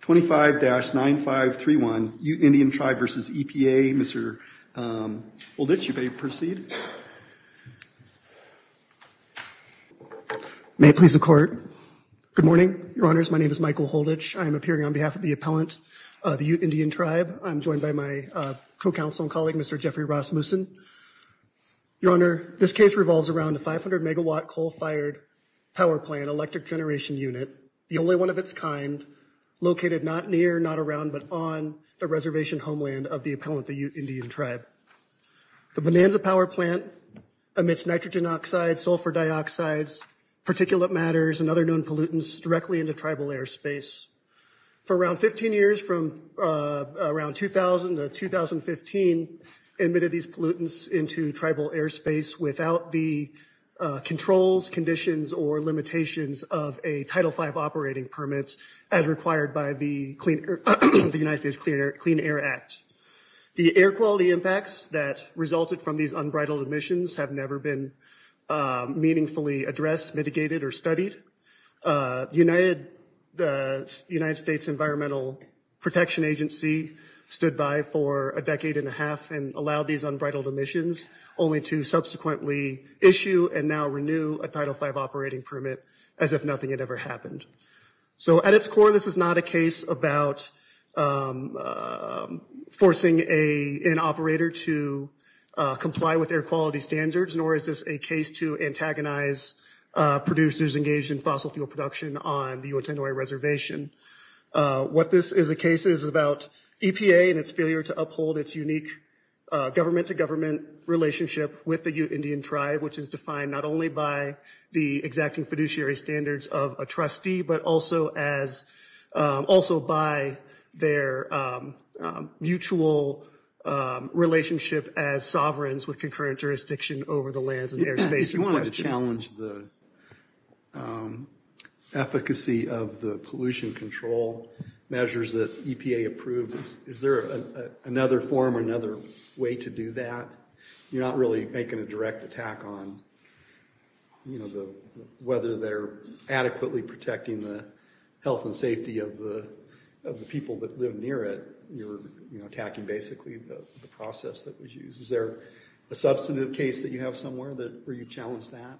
25-9531, Ute Indian Tribe v. EPA. Mr. Holditch, you may proceed. May it please the Court. Good morning, Your Honors. My name is Michael Holditch. I am appearing on behalf of the appellant, the Ute Indian Tribe. I'm joined by my co-counsel and colleague, Mr. Jeffrey Rasmussen. Your Honor, this case revolves around a 500-megawatt coal-fired power plant electric generation unit, the only one of its kind, located not near, not around, but on the reservation homeland of the appellant, the Ute Indian Tribe. The Bonanza power plant emits nitrogen oxide, sulfur dioxide, particulate matters, and other known pollutants directly into tribal airspace. For around 15 years, from around 2000 to 2015, it emitted these pollutants into tribal airspace without the controls, conditions, or limitations of a Title V operating permit as required by the United States Clean Air Act. The air quality impacts that resulted from these unbridled emissions have never been meaningfully addressed, mitigated, or studied. The United States Environmental Protection Agency stood by for a decade and a half and allowed these unbridled emissions, only to subsequently issue and now renew a Title V operating permit as if nothing had ever happened. So at its core, this is not a case about forcing an operator to comply with air quality standards, nor is this a case to antagonize producers engaged in fossil fuel production on the Utenoi Reservation. What this is a case is about EPA and its failure to uphold its unique government-to-government relationship with the Ute Indian Tribe, which is defined not only by the exacting fiduciary standards of a trustee, but also by their mutual relationship as sovereigns with concurrent jurisdiction over the lands and airspace. If you wanted to challenge the efficacy of the pollution control measures that EPA approved, is there another form or another way to do that? You're not really making a direct attack on whether they're adequately protecting the health and safety of the people that live near it. You're attacking basically the process that was used. Is there a substantive case that you have somewhere where you challenge that?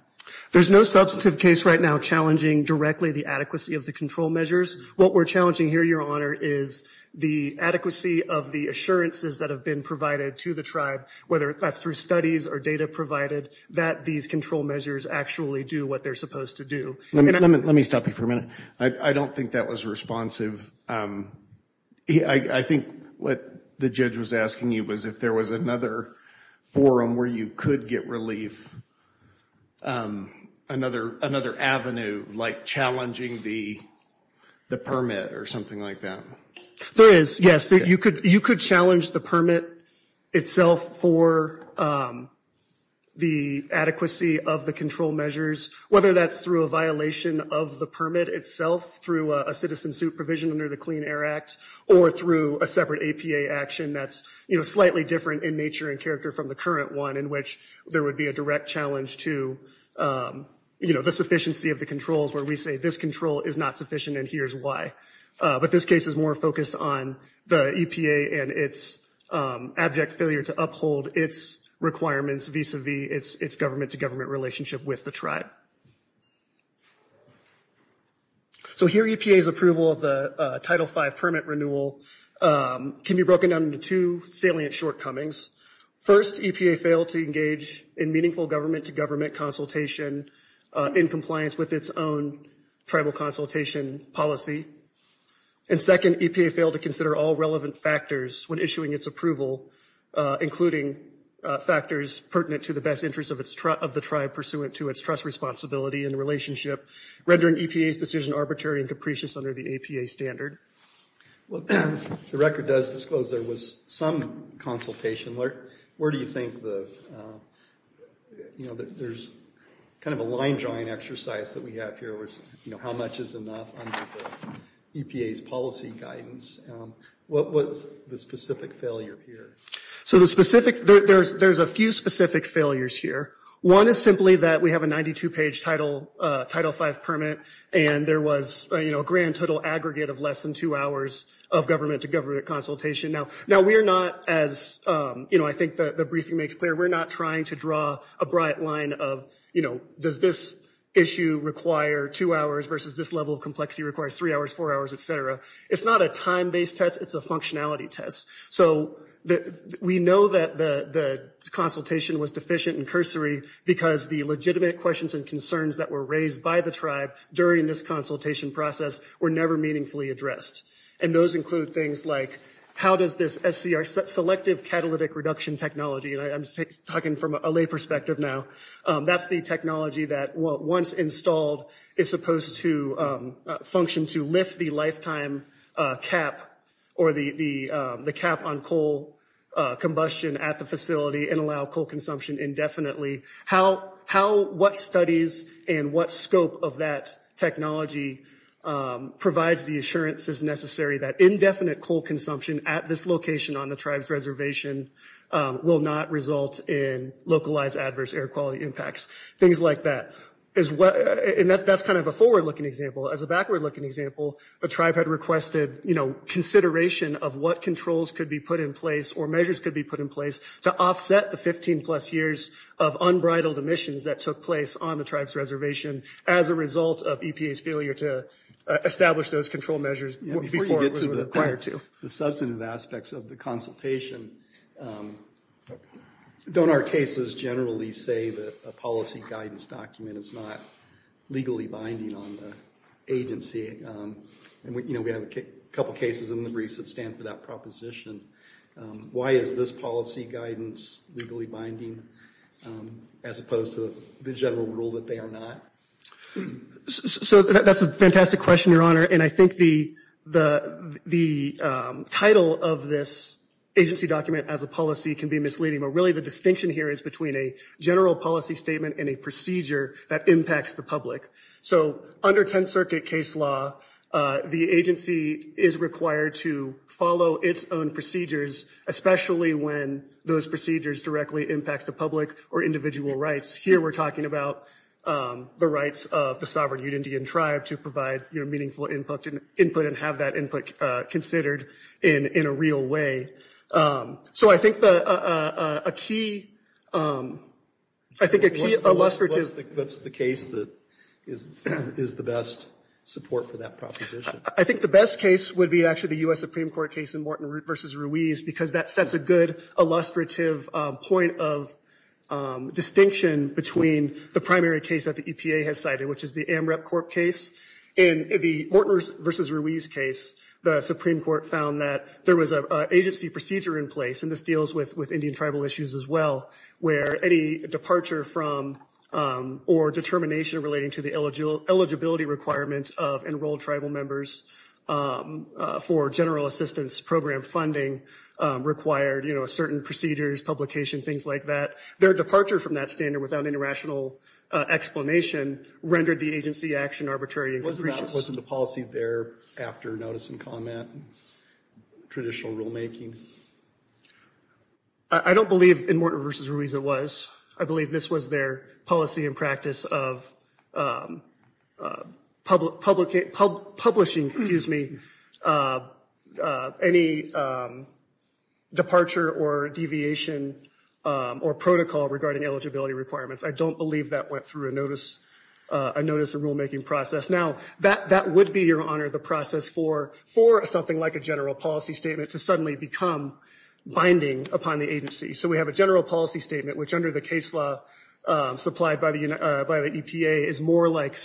There's no substantive case right now challenging directly the adequacy of the control measures. What we're challenging here, your honor, is the assurances that have been provided to the tribe, whether that's through studies or data provided, that these control measures actually do what they're supposed to do. Let me stop you for a minute. I don't think that was responsive. I think what the judge was asking you was if there was another forum where you could get relief, another avenue, like challenging the permit or something like that. There is, yes. You could challenge the permit itself for the adequacy of the control measures, whether that's through a violation of the permit itself, through a citizen supervision under the Clean Air Act, or through a separate APA action that's slightly different in nature and character from the current one, in which there would be a direct challenge to the sufficiency of the controls, where we say this control is not sufficient, and here's why. But this case is more focused on the EPA and its abject failure to uphold its requirements vis-a-vis its government-to-government relationship with the tribe. So here EPA's approval of the Title V permit renewal can be broken down into two salient shortcomings. First, EPA failed to engage in meaningful government-to-government consultation in compliance with its own tribal consultation policy. And second, EPA failed to consider all relevant factors when issuing its approval, including factors pertinent to the best interest of the tribe pursuant to its trust, responsibility, and relationship, rendering EPA's decision arbitrary and capricious under the APA standard. Well, the record does disclose there was some consultation. Where do you think the, you know, there's kind of a line drawing exercise that we have here with, you know, how much is enough under the EPA's policy guidance. What was the specific failure here? So the specific, there's a few specific failures here. One is simply that we have a 92-page Title V permit and there was, you know, a grand total aggregate of less than two hours of government-to-government consultation. Now we're not as, you know, I think the briefing makes clear, we're not trying to draw a bright line of, you know, does this issue require two hours versus this level of complexity requires three hours, four hours, et cetera. It's not a time-based test, it's a functionality test. So we know that the consultation was deficient and cursory because the legitimate questions and concerns that were raised by the tribe during this consultation process were never meaningfully addressed. And those include things like how does this SCR, Selective Catalytic Reduction Technology, and I'm talking from a lay perspective now, that's the technology that once installed is supposed to function to lift the lifetime cap or the cap on coal combustion at the facility and allow coal consumption indefinitely. What studies and what scope of that technology provides the assurances necessary that indefinite coal consumption at this location on the tribe's reservation will not result in localized adverse air quality impacts, things like that. And that's kind of a forward-looking example. As a backward-looking example, the tribe had requested, you know, consideration of what controls could be put in place or measures could be put in place to offset the 15-plus years of unbridled emissions that took place on the tribe's reservation as a result of EPA's failure to establish those control measures before it was required to. The substantive aspects of the consultation, don't our cases generally say that a policy guidance document is not legally binding on the agency? And, you know, we have a couple cases in the briefs that stand for that proposition. Why is this policy guidance legally binding as opposed to the general rule that they are not? So that's a fantastic question, your honor, and I think the title of this agency document as a policy can be misleading, but really the distinction here is between a general policy statement and a that impacts the public. So under 10th Circuit case law, the agency is required to follow its own procedures, especially when those procedures directly impact the public or individual rights. Here we're talking about the rights of the sovereign Ute Indian tribe to provide, you know, meaningful input and have that input considered in a real way. So I think a key What's the case that is the best support for that proposition? I think the best case would be actually the U.S. Supreme Court case in Morton versus Ruiz, because that sets a good illustrative point of distinction between the primary case that the EPA has cited, which is the AMREP Corp case. In the Morton versus Ruiz case, the Supreme Court found that there was an agency procedure in place, and this deals with Indian tribal issues as well, where any departure from or determination relating to the eligibility requirement of enrolled tribal members for general assistance program funding required, you know, certain procedures, publication, things like that. Their departure from that standard without any rational explanation rendered the agency action arbitrary. Wasn't the policy there after notice and comment, traditional rulemaking? I don't believe in Morton versus Ruiz it was. I believe this was their policy and practice of publishing, excuse me, any departure or deviation or protocol regarding eligibility requirements. I don't believe that went through a notice, a notice of rulemaking process. Now, that would be, Your Honor, the process for something like a general policy statement to suddenly become binding upon the agency. So we have a general policy statement, which under the case law supplied by the EPA is more like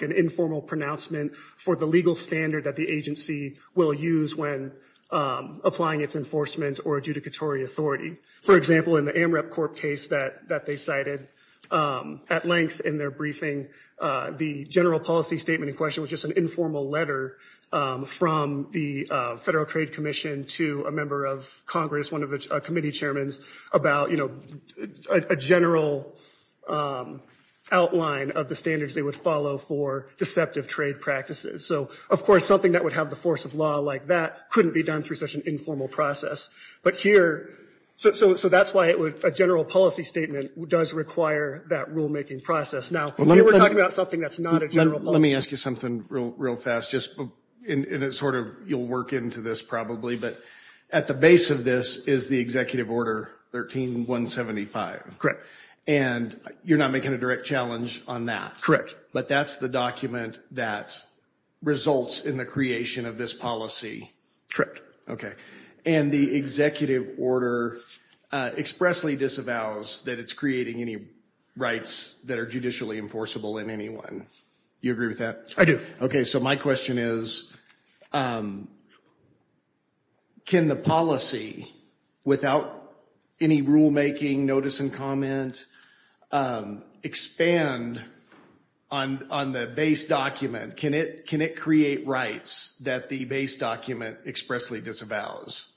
an informal pronouncement for the legal standard that the agency will use when applying its enforcement or adjudicatory authority. For example, in the AMREP Corp case that they cited, at length in their briefing, the general policy statement was just an informal letter from the Federal Trade Commission to a member of Congress, one of the committee chairmen, about, you know, a general outline of the standards they would follow for deceptive trade practices. So, of course, something that would have the force of law like that couldn't be done through such an informal process. But here, so that's why a general policy statement does require that rulemaking process. Now, here we're talking about something that's not a general policy. Let me ask you something real, real fast, just in a sort of, you'll work into this probably, but at the base of this is the Executive Order 13-175. Correct. And you're not making a direct challenge on that. Correct. But that's the document that results in the creation of this policy. Correct. Okay. And the Executive Order expressly disavows that it's rights that are judicially enforceable in any one. You agree with that? I do. Okay. So my question is, can the policy, without any rulemaking notice and comment, expand on the base document? Can it create rights that the base document expressly disavows?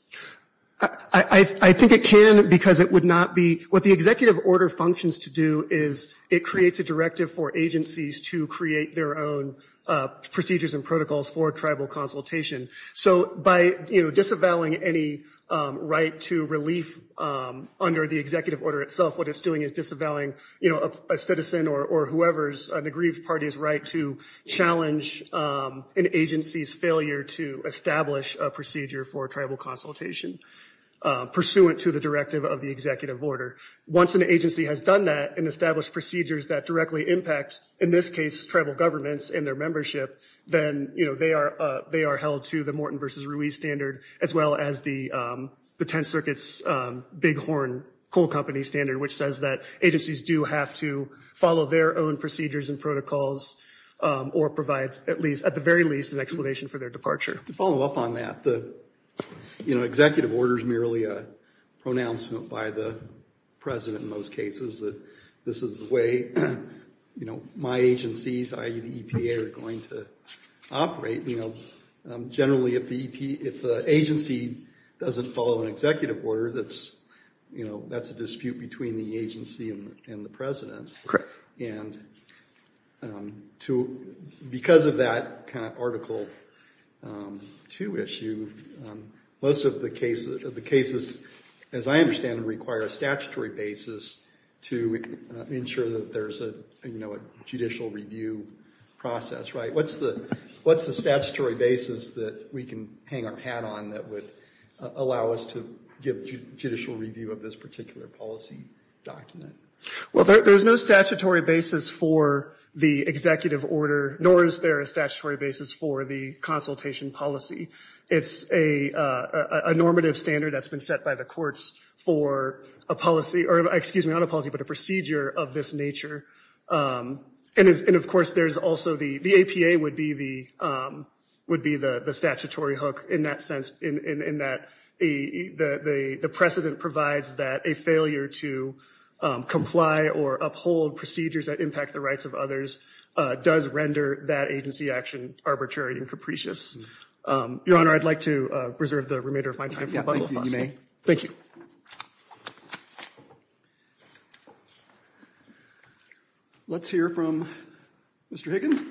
I think it can because it would not be, what the Executive Order functions to do is it creates a directive for agencies to create their own procedures and protocols for tribal consultation. So by disavowing any right to relief under the Executive Order itself, what it's doing is disavowing a citizen or whoever's, an aggrieved party's right to challenge an agency's failure to establish a procedure for tribal consultation pursuant to the directive of the Executive Order. Once an agency has done that and established procedures that directly impact, in this case, tribal governments and their membership, then, you know, they are held to the Morton v. Ruiz standard as well as the 10th Circuit's Bighorn Coal Company standard, which says that agencies do have to follow their own procedures and protocols or provide at least, at the very least, an explanation for their departure. To follow up on that, the, you know, Executive Order is merely a pronouncement by the President in most cases that this is the way, you know, my agencies, i.e. the EPA, are going to operate, you know. Generally, if the agency doesn't follow an Executive Order, that's, you know, that's a two-issue. Most of the cases, as I understand, require a statutory basis to ensure that there's a, you know, a judicial review process, right? What's the statutory basis that we can hang our hat on that would allow us to give judicial review of this particular policy document? Well, there's no statutory basis for the Executive Order, nor is there a statutory basis for the consultation policy. It's a normative standard that's been set by the courts for a policy, or excuse me, not a policy, but a procedure of this nature. And, of course, there's also the APA would be the statutory hook in that sense, in that the precedent provides that a failure to comply or uphold procedures that impact the statutory and capricious. Your Honor, I'd like to reserve the remainder of my time. Thank you. Let's hear from Mr. Higgins.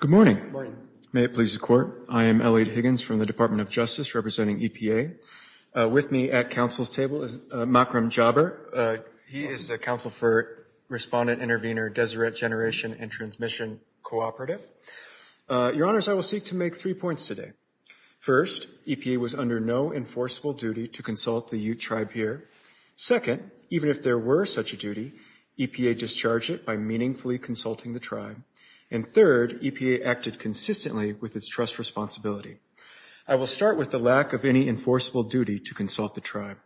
Good morning. May it please the Court. I am Elliot Higgins from the Department of Justice, representing EPA. With me at Council's table is Makram Jaber. He is the Council for Respondent, Intervenor, Deseret Generation and Transmission Cooperative. Your Honors, I will seek to make three points today. First, EPA was under no enforceable duty to consult the Ute Tribe here. Second, even if there were such a duty, EPA discharged it by meaningfully consulting the tribe. And third, EPA acted consistently with its trust responsibility. I will start with the lack of any enforceable duty to consult the tribe.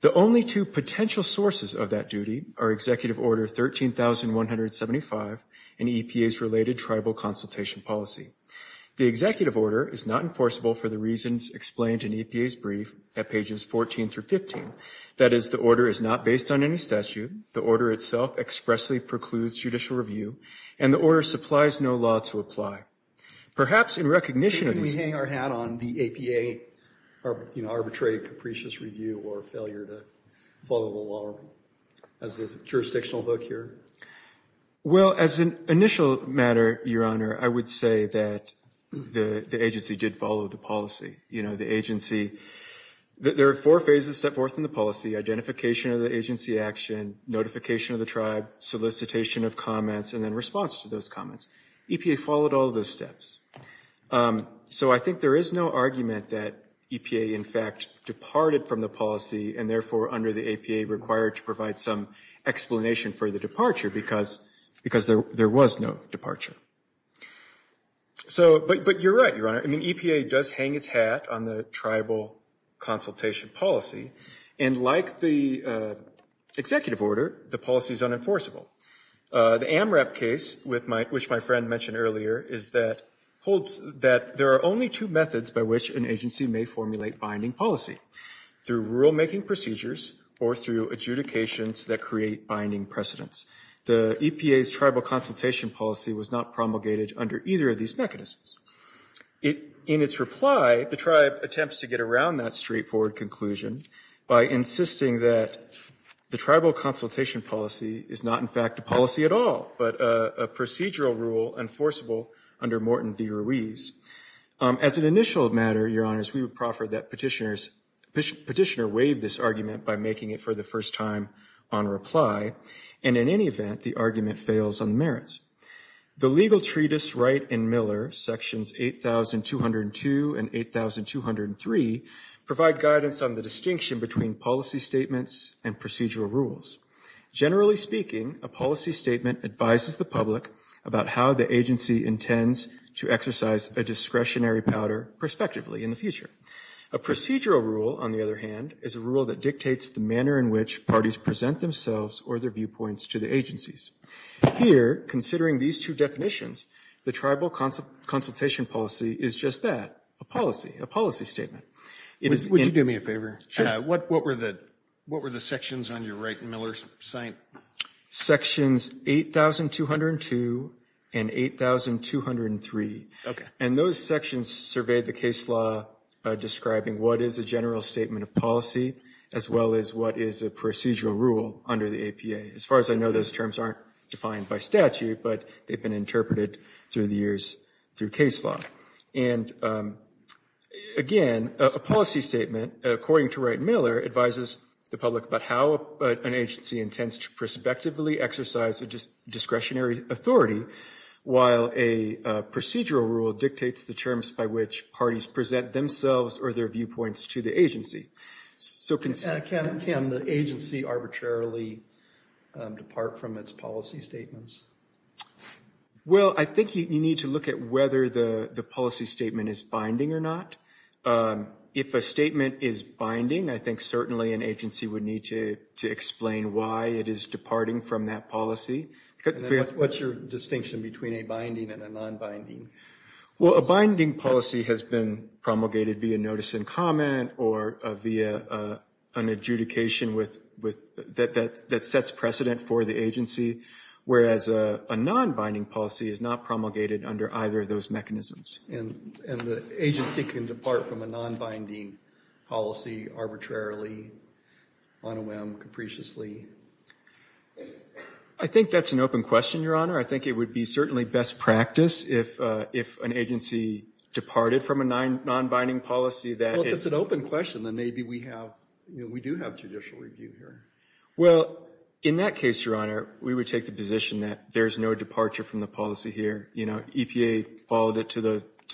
The only two potential sources of that duty are Executive Order 13175 and EPA's related tribal consultation policy. The Executive Order is not enforceable for the reasons explained in EPA's brief at pages 14 through 15. That is, the order is not based on any statute, the order itself expressly precludes judicial review, and the order supplies no law to apply. Perhaps in recognition of these... Could we hang our hat on the EPA, you know, arbitrary, capricious review or failure to follow the law as a jurisdictional hook here? Well, as an initial matter, Your Honor, I would say that the agency did follow the policy. You know, the agency... There are four phases set forth in the policy, identification of the agency action, notification of the tribe, solicitation of comments, and then response to those comments. EPA followed all of those steps. So I think there is no argument that EPA, in fact, departed from the policy, and therefore under the EPA required to provide some explanation for the departure, because there was no departure. So, but you're right, Your Honor. I mean, EPA does hang its hat on the tribal consultation policy, and like the executive order, the policy is unenforceable. The AMRAP case, which my friend mentioned earlier, holds that there are only two methods by which an agency may formulate binding policy, through rulemaking procedures or through adjudications that create binding precedents. The EPA's tribal consultation policy was not promulgated under either of these mechanisms. In its reply, the tribe attempts to get around that straightforward conclusion by insisting that the tribal consultation policy is not, in fact, a policy at all, but a procedural rule enforceable under Morton v. Ruiz. As an initial matter, Your Honor, we would proffer that petitioners... Petitioner waive this argument by making it for the first time on reply, and in any event, the argument fails on the merits. The legal treatise Wright and Miller, sections 8202 and 8203, provide guidance on the distinction between policy statements and procedural rules. Generally speaking, a policy statement advises the public about how the agency intends to exercise a discretionary powder prospectively in the future. A procedural rule, on the other hand, is a rule that dictates the manner in which parties present themselves or their viewpoints to the agencies. Here, considering these two definitions, the tribal consultation policy is just that, a policy, a policy statement. Would you do me a favor? Sure. What were the sections on your Wright and Miller cite? Sections 8202 and 8203. Okay. And those sections surveyed the case law describing what is a general statement of policy as well as what is a procedural rule under the APA. As far as I know, those terms aren't defined by statute, but they've been interpreted through the years through case law. And again, a policy statement, according to Wright and Miller, advises the public about how an agency intends to prospectively exercise a discretionary authority while a procedural rule dictates the terms by which parties present themselves or their viewpoints to the agency. So can the agency arbitrarily depart from its policy statements? Well, I think you need to look at whether the policy statement is binding or not. If a statement is binding, I think certainly an agency would need to explain why it is departing from that policy. What's your distinction between a binding and a non-binding? Well, a binding policy has been promulgated via notice and comment or via an adjudication that sets precedent for the agency, whereas a non-binding policy is not promulgated under either of those mechanisms. And the agency can depart from a non-binding policy arbitrarily, on a whim, capriciously. I think that's an open question, Your Honor. I think it would be certainly best practice if an agency departed from a non-binding policy. Well, if it's an open question, then maybe we have, we do have judicial review here. Well, in that case, Your Honor, we would take the position that there's no departure from the policy here. You know, EPA followed it to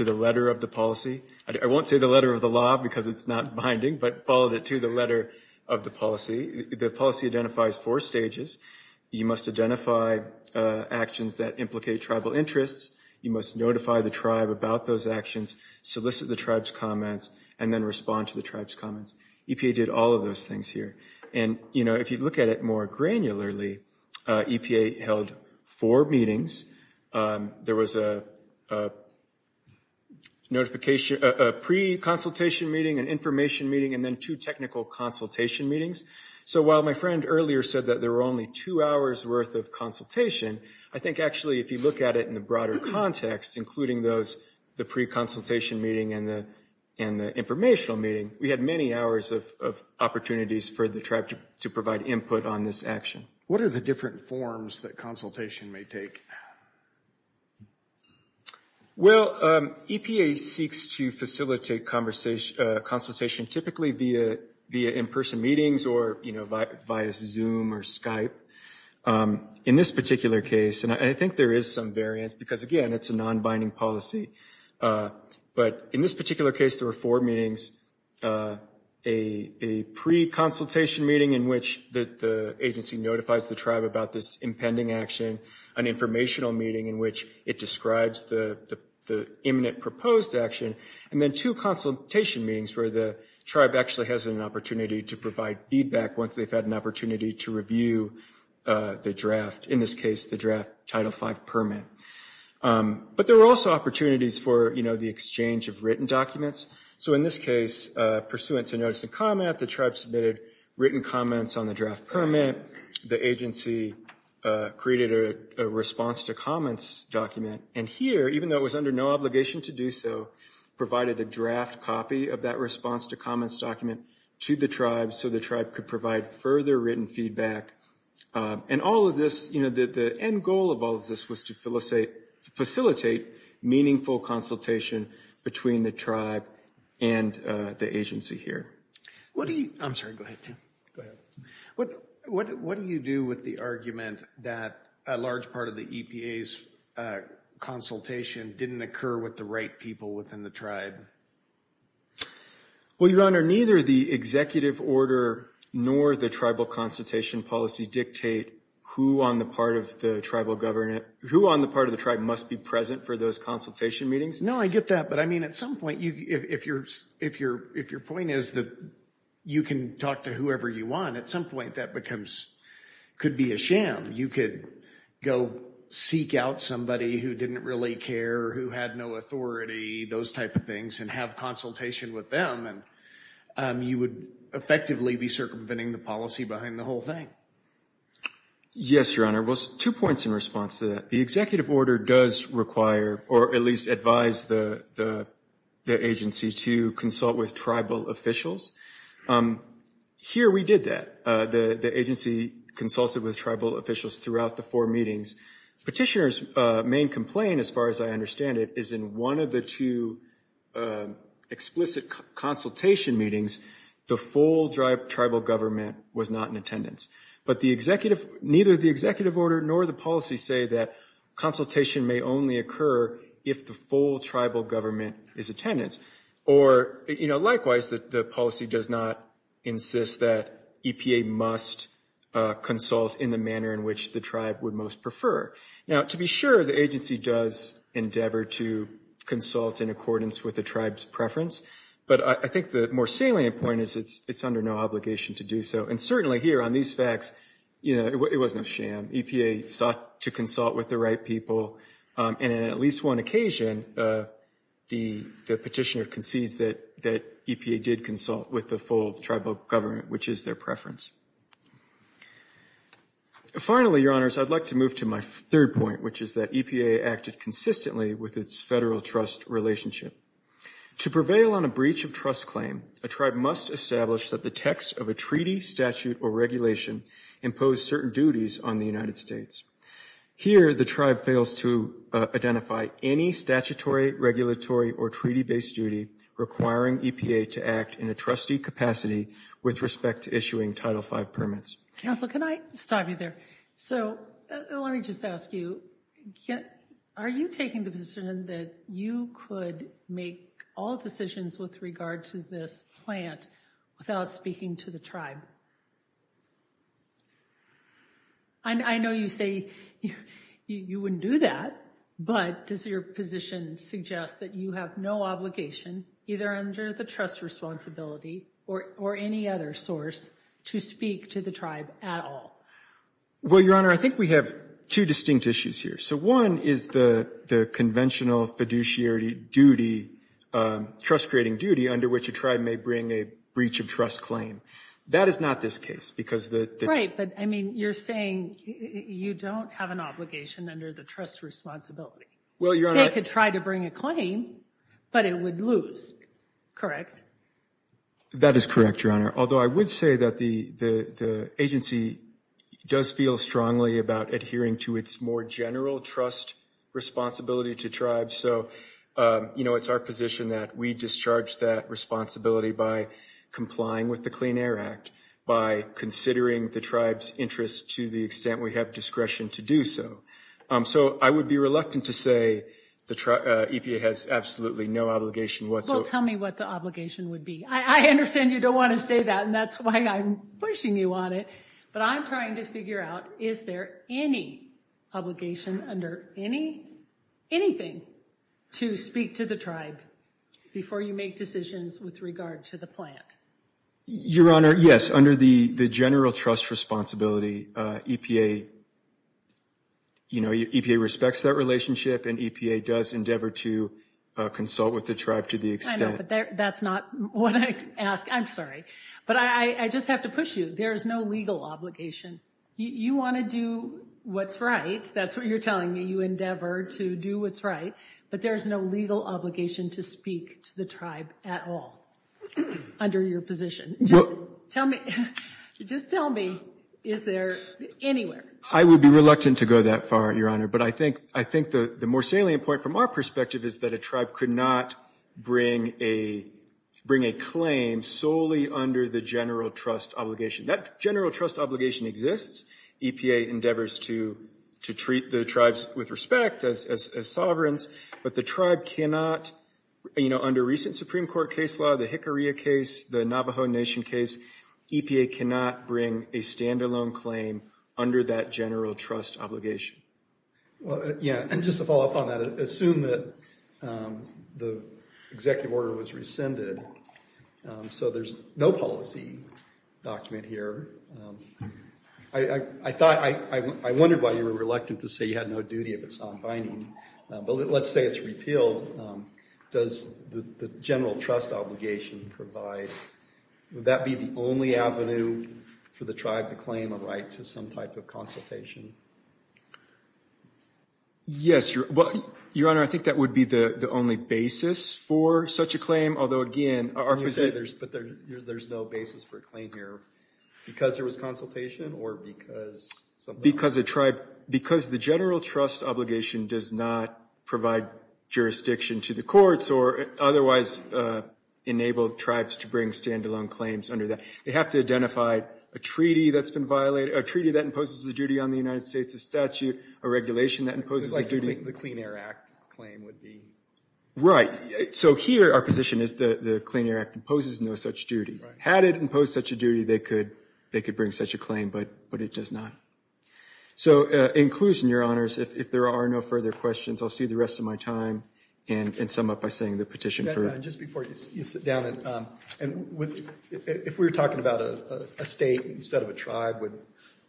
the letter of the policy. I won't say the letter of the law because it's not binding, but followed it to the letter of the policy. The policy identifies four stages. You must identify actions that implicate tribal interests. You must notify the tribe about those actions, solicit the tribe's comments, and then respond to the tribe's comments. EPA did all of those things here. And, you know, if you look at it more granularly, EPA held four meetings. There was a notification, a pre-consultation meeting, an information meeting, and then two technical consultation meetings. So while my friend earlier said that there were only two hours worth of consultation, I think actually if you look at it in the broader context, including those, the pre-consultation meeting and the informational meeting, we had many hours of opportunities for the tribe to provide input on this action. What are the different forms that consultation may take? Well, EPA seeks to facilitate consultation typically via in-person meetings or, you know, via Zoom or Skype. In this particular case, and I think there is some variance because, again, it's a non-binding policy, but in this particular case there were four meetings. A pre-consultation meeting in which the agency notifies the tribe about this impending action, an informational meeting in which it describes the imminent proposed action, and then two consultation meetings where the tribe actually has an opportunity to provide feedback once they've had an opportunity to review the draft, in this case the draft Title V permit. But there were also opportunities for, you know, the exchange of written documents. So in this case, pursuant to notice and comment, the tribe submitted written comments on the draft permit. The agency created a response to comments document, and here, even though it was under no obligation to do so, provided a draft copy of that response to comments document to the tribe so the tribe could provide further written feedback. And all of this, you know, the end goal of all of this was to facilitate meaningful consultation between the tribe and the agency here. What do you do with the argument that a large part of the EPA's consultation didn't occur with the right people within the tribe? Well, your honor, neither the executive order nor the tribal consultation policy dictate who on the part of the tribal government, who on the part of the tribe must be present for those consultation meetings. No, I get that. But I mean, at some point, if your point is that you can talk to whoever you want, at some point that becomes, could be a sham. You could go seek out somebody who didn't really care, who had no authority, those type of things, and have consultation with them, and you would effectively be circumventing the policy behind the whole thing. Yes, your honor. Well, two points in response to that. The executive order does require, or at least advise, the agency to consult with tribal officials. Here we did that. The agency consulted with tribal officials throughout the four meetings. Petitioner's main complaint, as far as I understand it, is in one of the two explicit consultation meetings, the full tribal government was not in attendance. But the executive, neither the executive order nor the policy say that consultation may only occur if the full tribal government is attendance. Or, you know, likewise, that the policy does not insist that EPA must consult in the manner in which the tribe would most prefer. Now, to be sure, the agency does endeavor to consult in accordance with the tribe's preference. But I think the more salient point is it's under no obligation to do so. And certainly here on these facts, you know, it was no sham. EPA sought to consult with the right people, and on at least one occasion, the petitioner concedes that EPA did consult with the full tribal government, which is their preference. Finally, your honors, I'd like to move to my third point, which is that EPA acted consistently with its federal trust relationship. To prevail on a breach of trust claim, a tribe must establish that the text of a treaty, statute, or regulation impose certain duties on the United States. Here, the tribe fails to identify any statutory, regulatory, or treaty-based duty requiring EPA to act in a trustee capacity with respect to issuing Title V permits. Counsel, can I stop you there? So let me just ask you, are you taking the position that you could make all decisions with regard to this plant without speaking to the tribe? I know you say you wouldn't do that, but does your position suggest that you have no obligation, either under the trust responsibility or any other source, to speak to the tribe at all? Well, your honor, I think we have two distinct issues here. So one is the conventional fiduciary duty, trust-creating duty, under which a tribe may bring a breach of trust claim. That is not this case, because the... Right, but I mean, you're saying you don't have an obligation under the trust responsibility. Well, your honor... They could try to bring a claim, but it would lose, correct? That is correct, your honor. Although I would say that the agency does feel strongly about adhering to its more general trust responsibility to tribes. So, you know, it's our position that we discharge that responsibility by complying with the Clean Air Act, by considering the tribe's interests to the extent we have discretion to do so. So I would be reluctant to say the EPA has absolutely no obligation whatsoever. Well, tell me what the obligation would be. I understand you don't want to say that, and that's why I'm pushing you on it. But I'm trying to figure out, is there any obligation under anything to speak to the tribe before you make decisions with regard to the plant? Your honor, yes. Under the general trust responsibility, EPA respects that relationship, and EPA does endeavor to consult with the tribe to the extent... I know, but that's not what I ask. I'm sorry. But I just have to push you. There is no legal obligation. You want to do what's right. That's what you're telling me. You endeavor to do what's right, but there's no legal obligation to speak to the tribe at all under your position. Just tell me, just tell me, is there anywhere? I would be reluctant to go that far, your honor. But I think the more salient point from our perspective is that a tribe could not bring a claim solely under the general trust obligation. That general trust obligation exists. EPA endeavors to treat the tribes with respect as sovereigns, but the tribe cannot, you know, under recent Supreme Court case law, the Hickory case, the Navajo Nation case, EPA cannot bring a standalone claim under that general trust obligation. Well, yeah, and just to follow up on that, assume that the executive order was rescinded, so there's no policy document here. I thought, I wondered why you were reluctant to say you had no duty if it's not binding, but let's say it's repealed. Does the general trust obligation provide, would that be the only avenue for the tribe to claim a right to some type of consultation? Yes, your, well, your honor, I think that would be the only basis for such a claim. Although, again, our position... You said there's, but there's no basis for a claim here because there was consultation or because... Because a tribe, because the general trust obligation does not provide jurisdiction to the courts or otherwise enable tribes to bring standalone claims under that. They have to identify a treaty that's been violated, a treaty that imposes a duty on the United States, a statute, a regulation that imposes a duty. The Clean Air Act claim would be... Right. So here, our position is the Clean Air Act imposes no such duty. Had it imposed such a duty, they could bring such a claim, but it does not. So inclusion, your honors, if there are no further questions, I'll see the rest of my time and sum up by saying the petition... Just before you sit down, and if we're talking about a state instead of a tribe,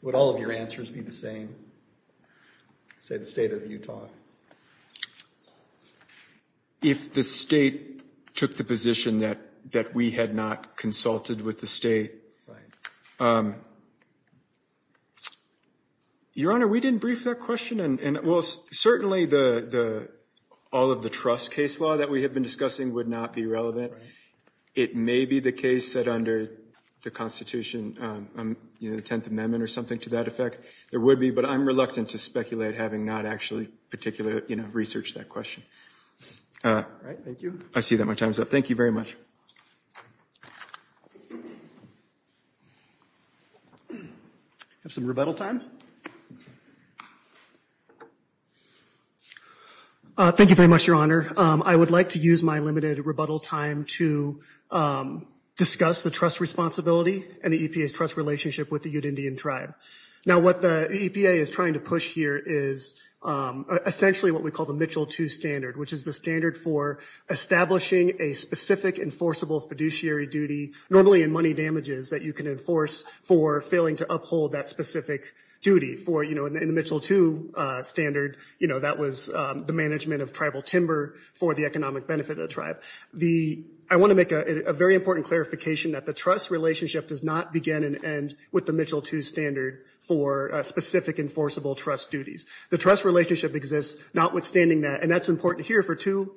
would all of your answers be the same? Say the state of Utah. If the state took the position that we had not consulted with the state... Your honor, we didn't brief that question. And, well, certainly the, all of the trust case law that we have been discussing would not be relevant. It may be the case that under the Constitution, you know, the 10th Amendment or something to that effect, there would be, but I'm reluctant to speculate having not actually particularly, you know, researched that question. All right. Thank you. I see that my time is up. Thank you very much. Have some rebuttal time. Thank you very much, your honor. I would like to rebuttal time to discuss the trust responsibility and the EPA's trust relationship with the Ute Indian tribe. Now, what the EPA is trying to push here is essentially what we call the Mitchell 2 standard, which is the standard for establishing a specific enforceable fiduciary duty, normally in money damages that you can enforce for failing to uphold that specific duty for, you know, in the Mitchell 2 standard, you know, that was the management of tribal timber for the economic benefit of the tribe. I want to make a very important clarification that the trust relationship does not begin and end with the Mitchell 2 standard for specific enforceable trust duties. The trust relationship exists notwithstanding that, and that's important here for two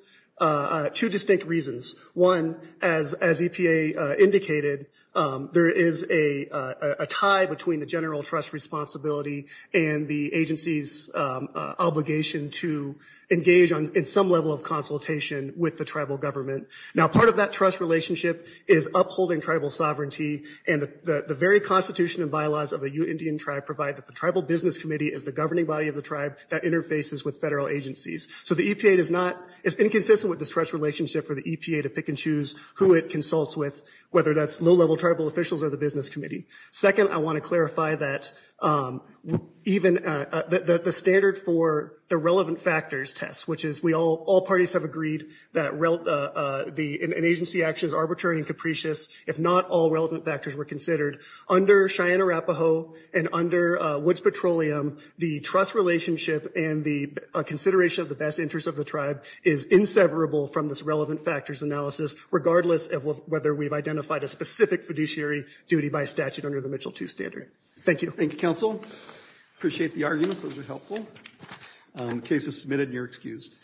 distinct reasons. One, as EPA indicated, there is a tie between the general trust responsibility and the agency's obligation to engage in some level of consultation with the tribal government. Now, part of that trust relationship is upholding tribal sovereignty, and the very constitution and bylaws of the Ute Indian tribe provide that the tribal business committee is the governing body of the tribe that interfaces with federal agencies. So the EPA does not, it's inconsistent with this trust relationship for the EPA to pick and choose who it consults with, whether that's low-level officials or the business committee. Second, I want to clarify that even the standard for the relevant factors test, which is we all parties have agreed that an agency action is arbitrary and capricious if not all relevant factors were considered. Under Cheyenne-Arapaho and under Woods Petroleum, the trust relationship and the consideration of the best interest of the tribe is inseverable from this relevant factors analysis, regardless of whether we've identified a specific fiduciary duty by statute under the Mitchell II standard. Thank you. Thank you, counsel. Appreciate the arguments. Those are helpful. Case is submitted and you're excused.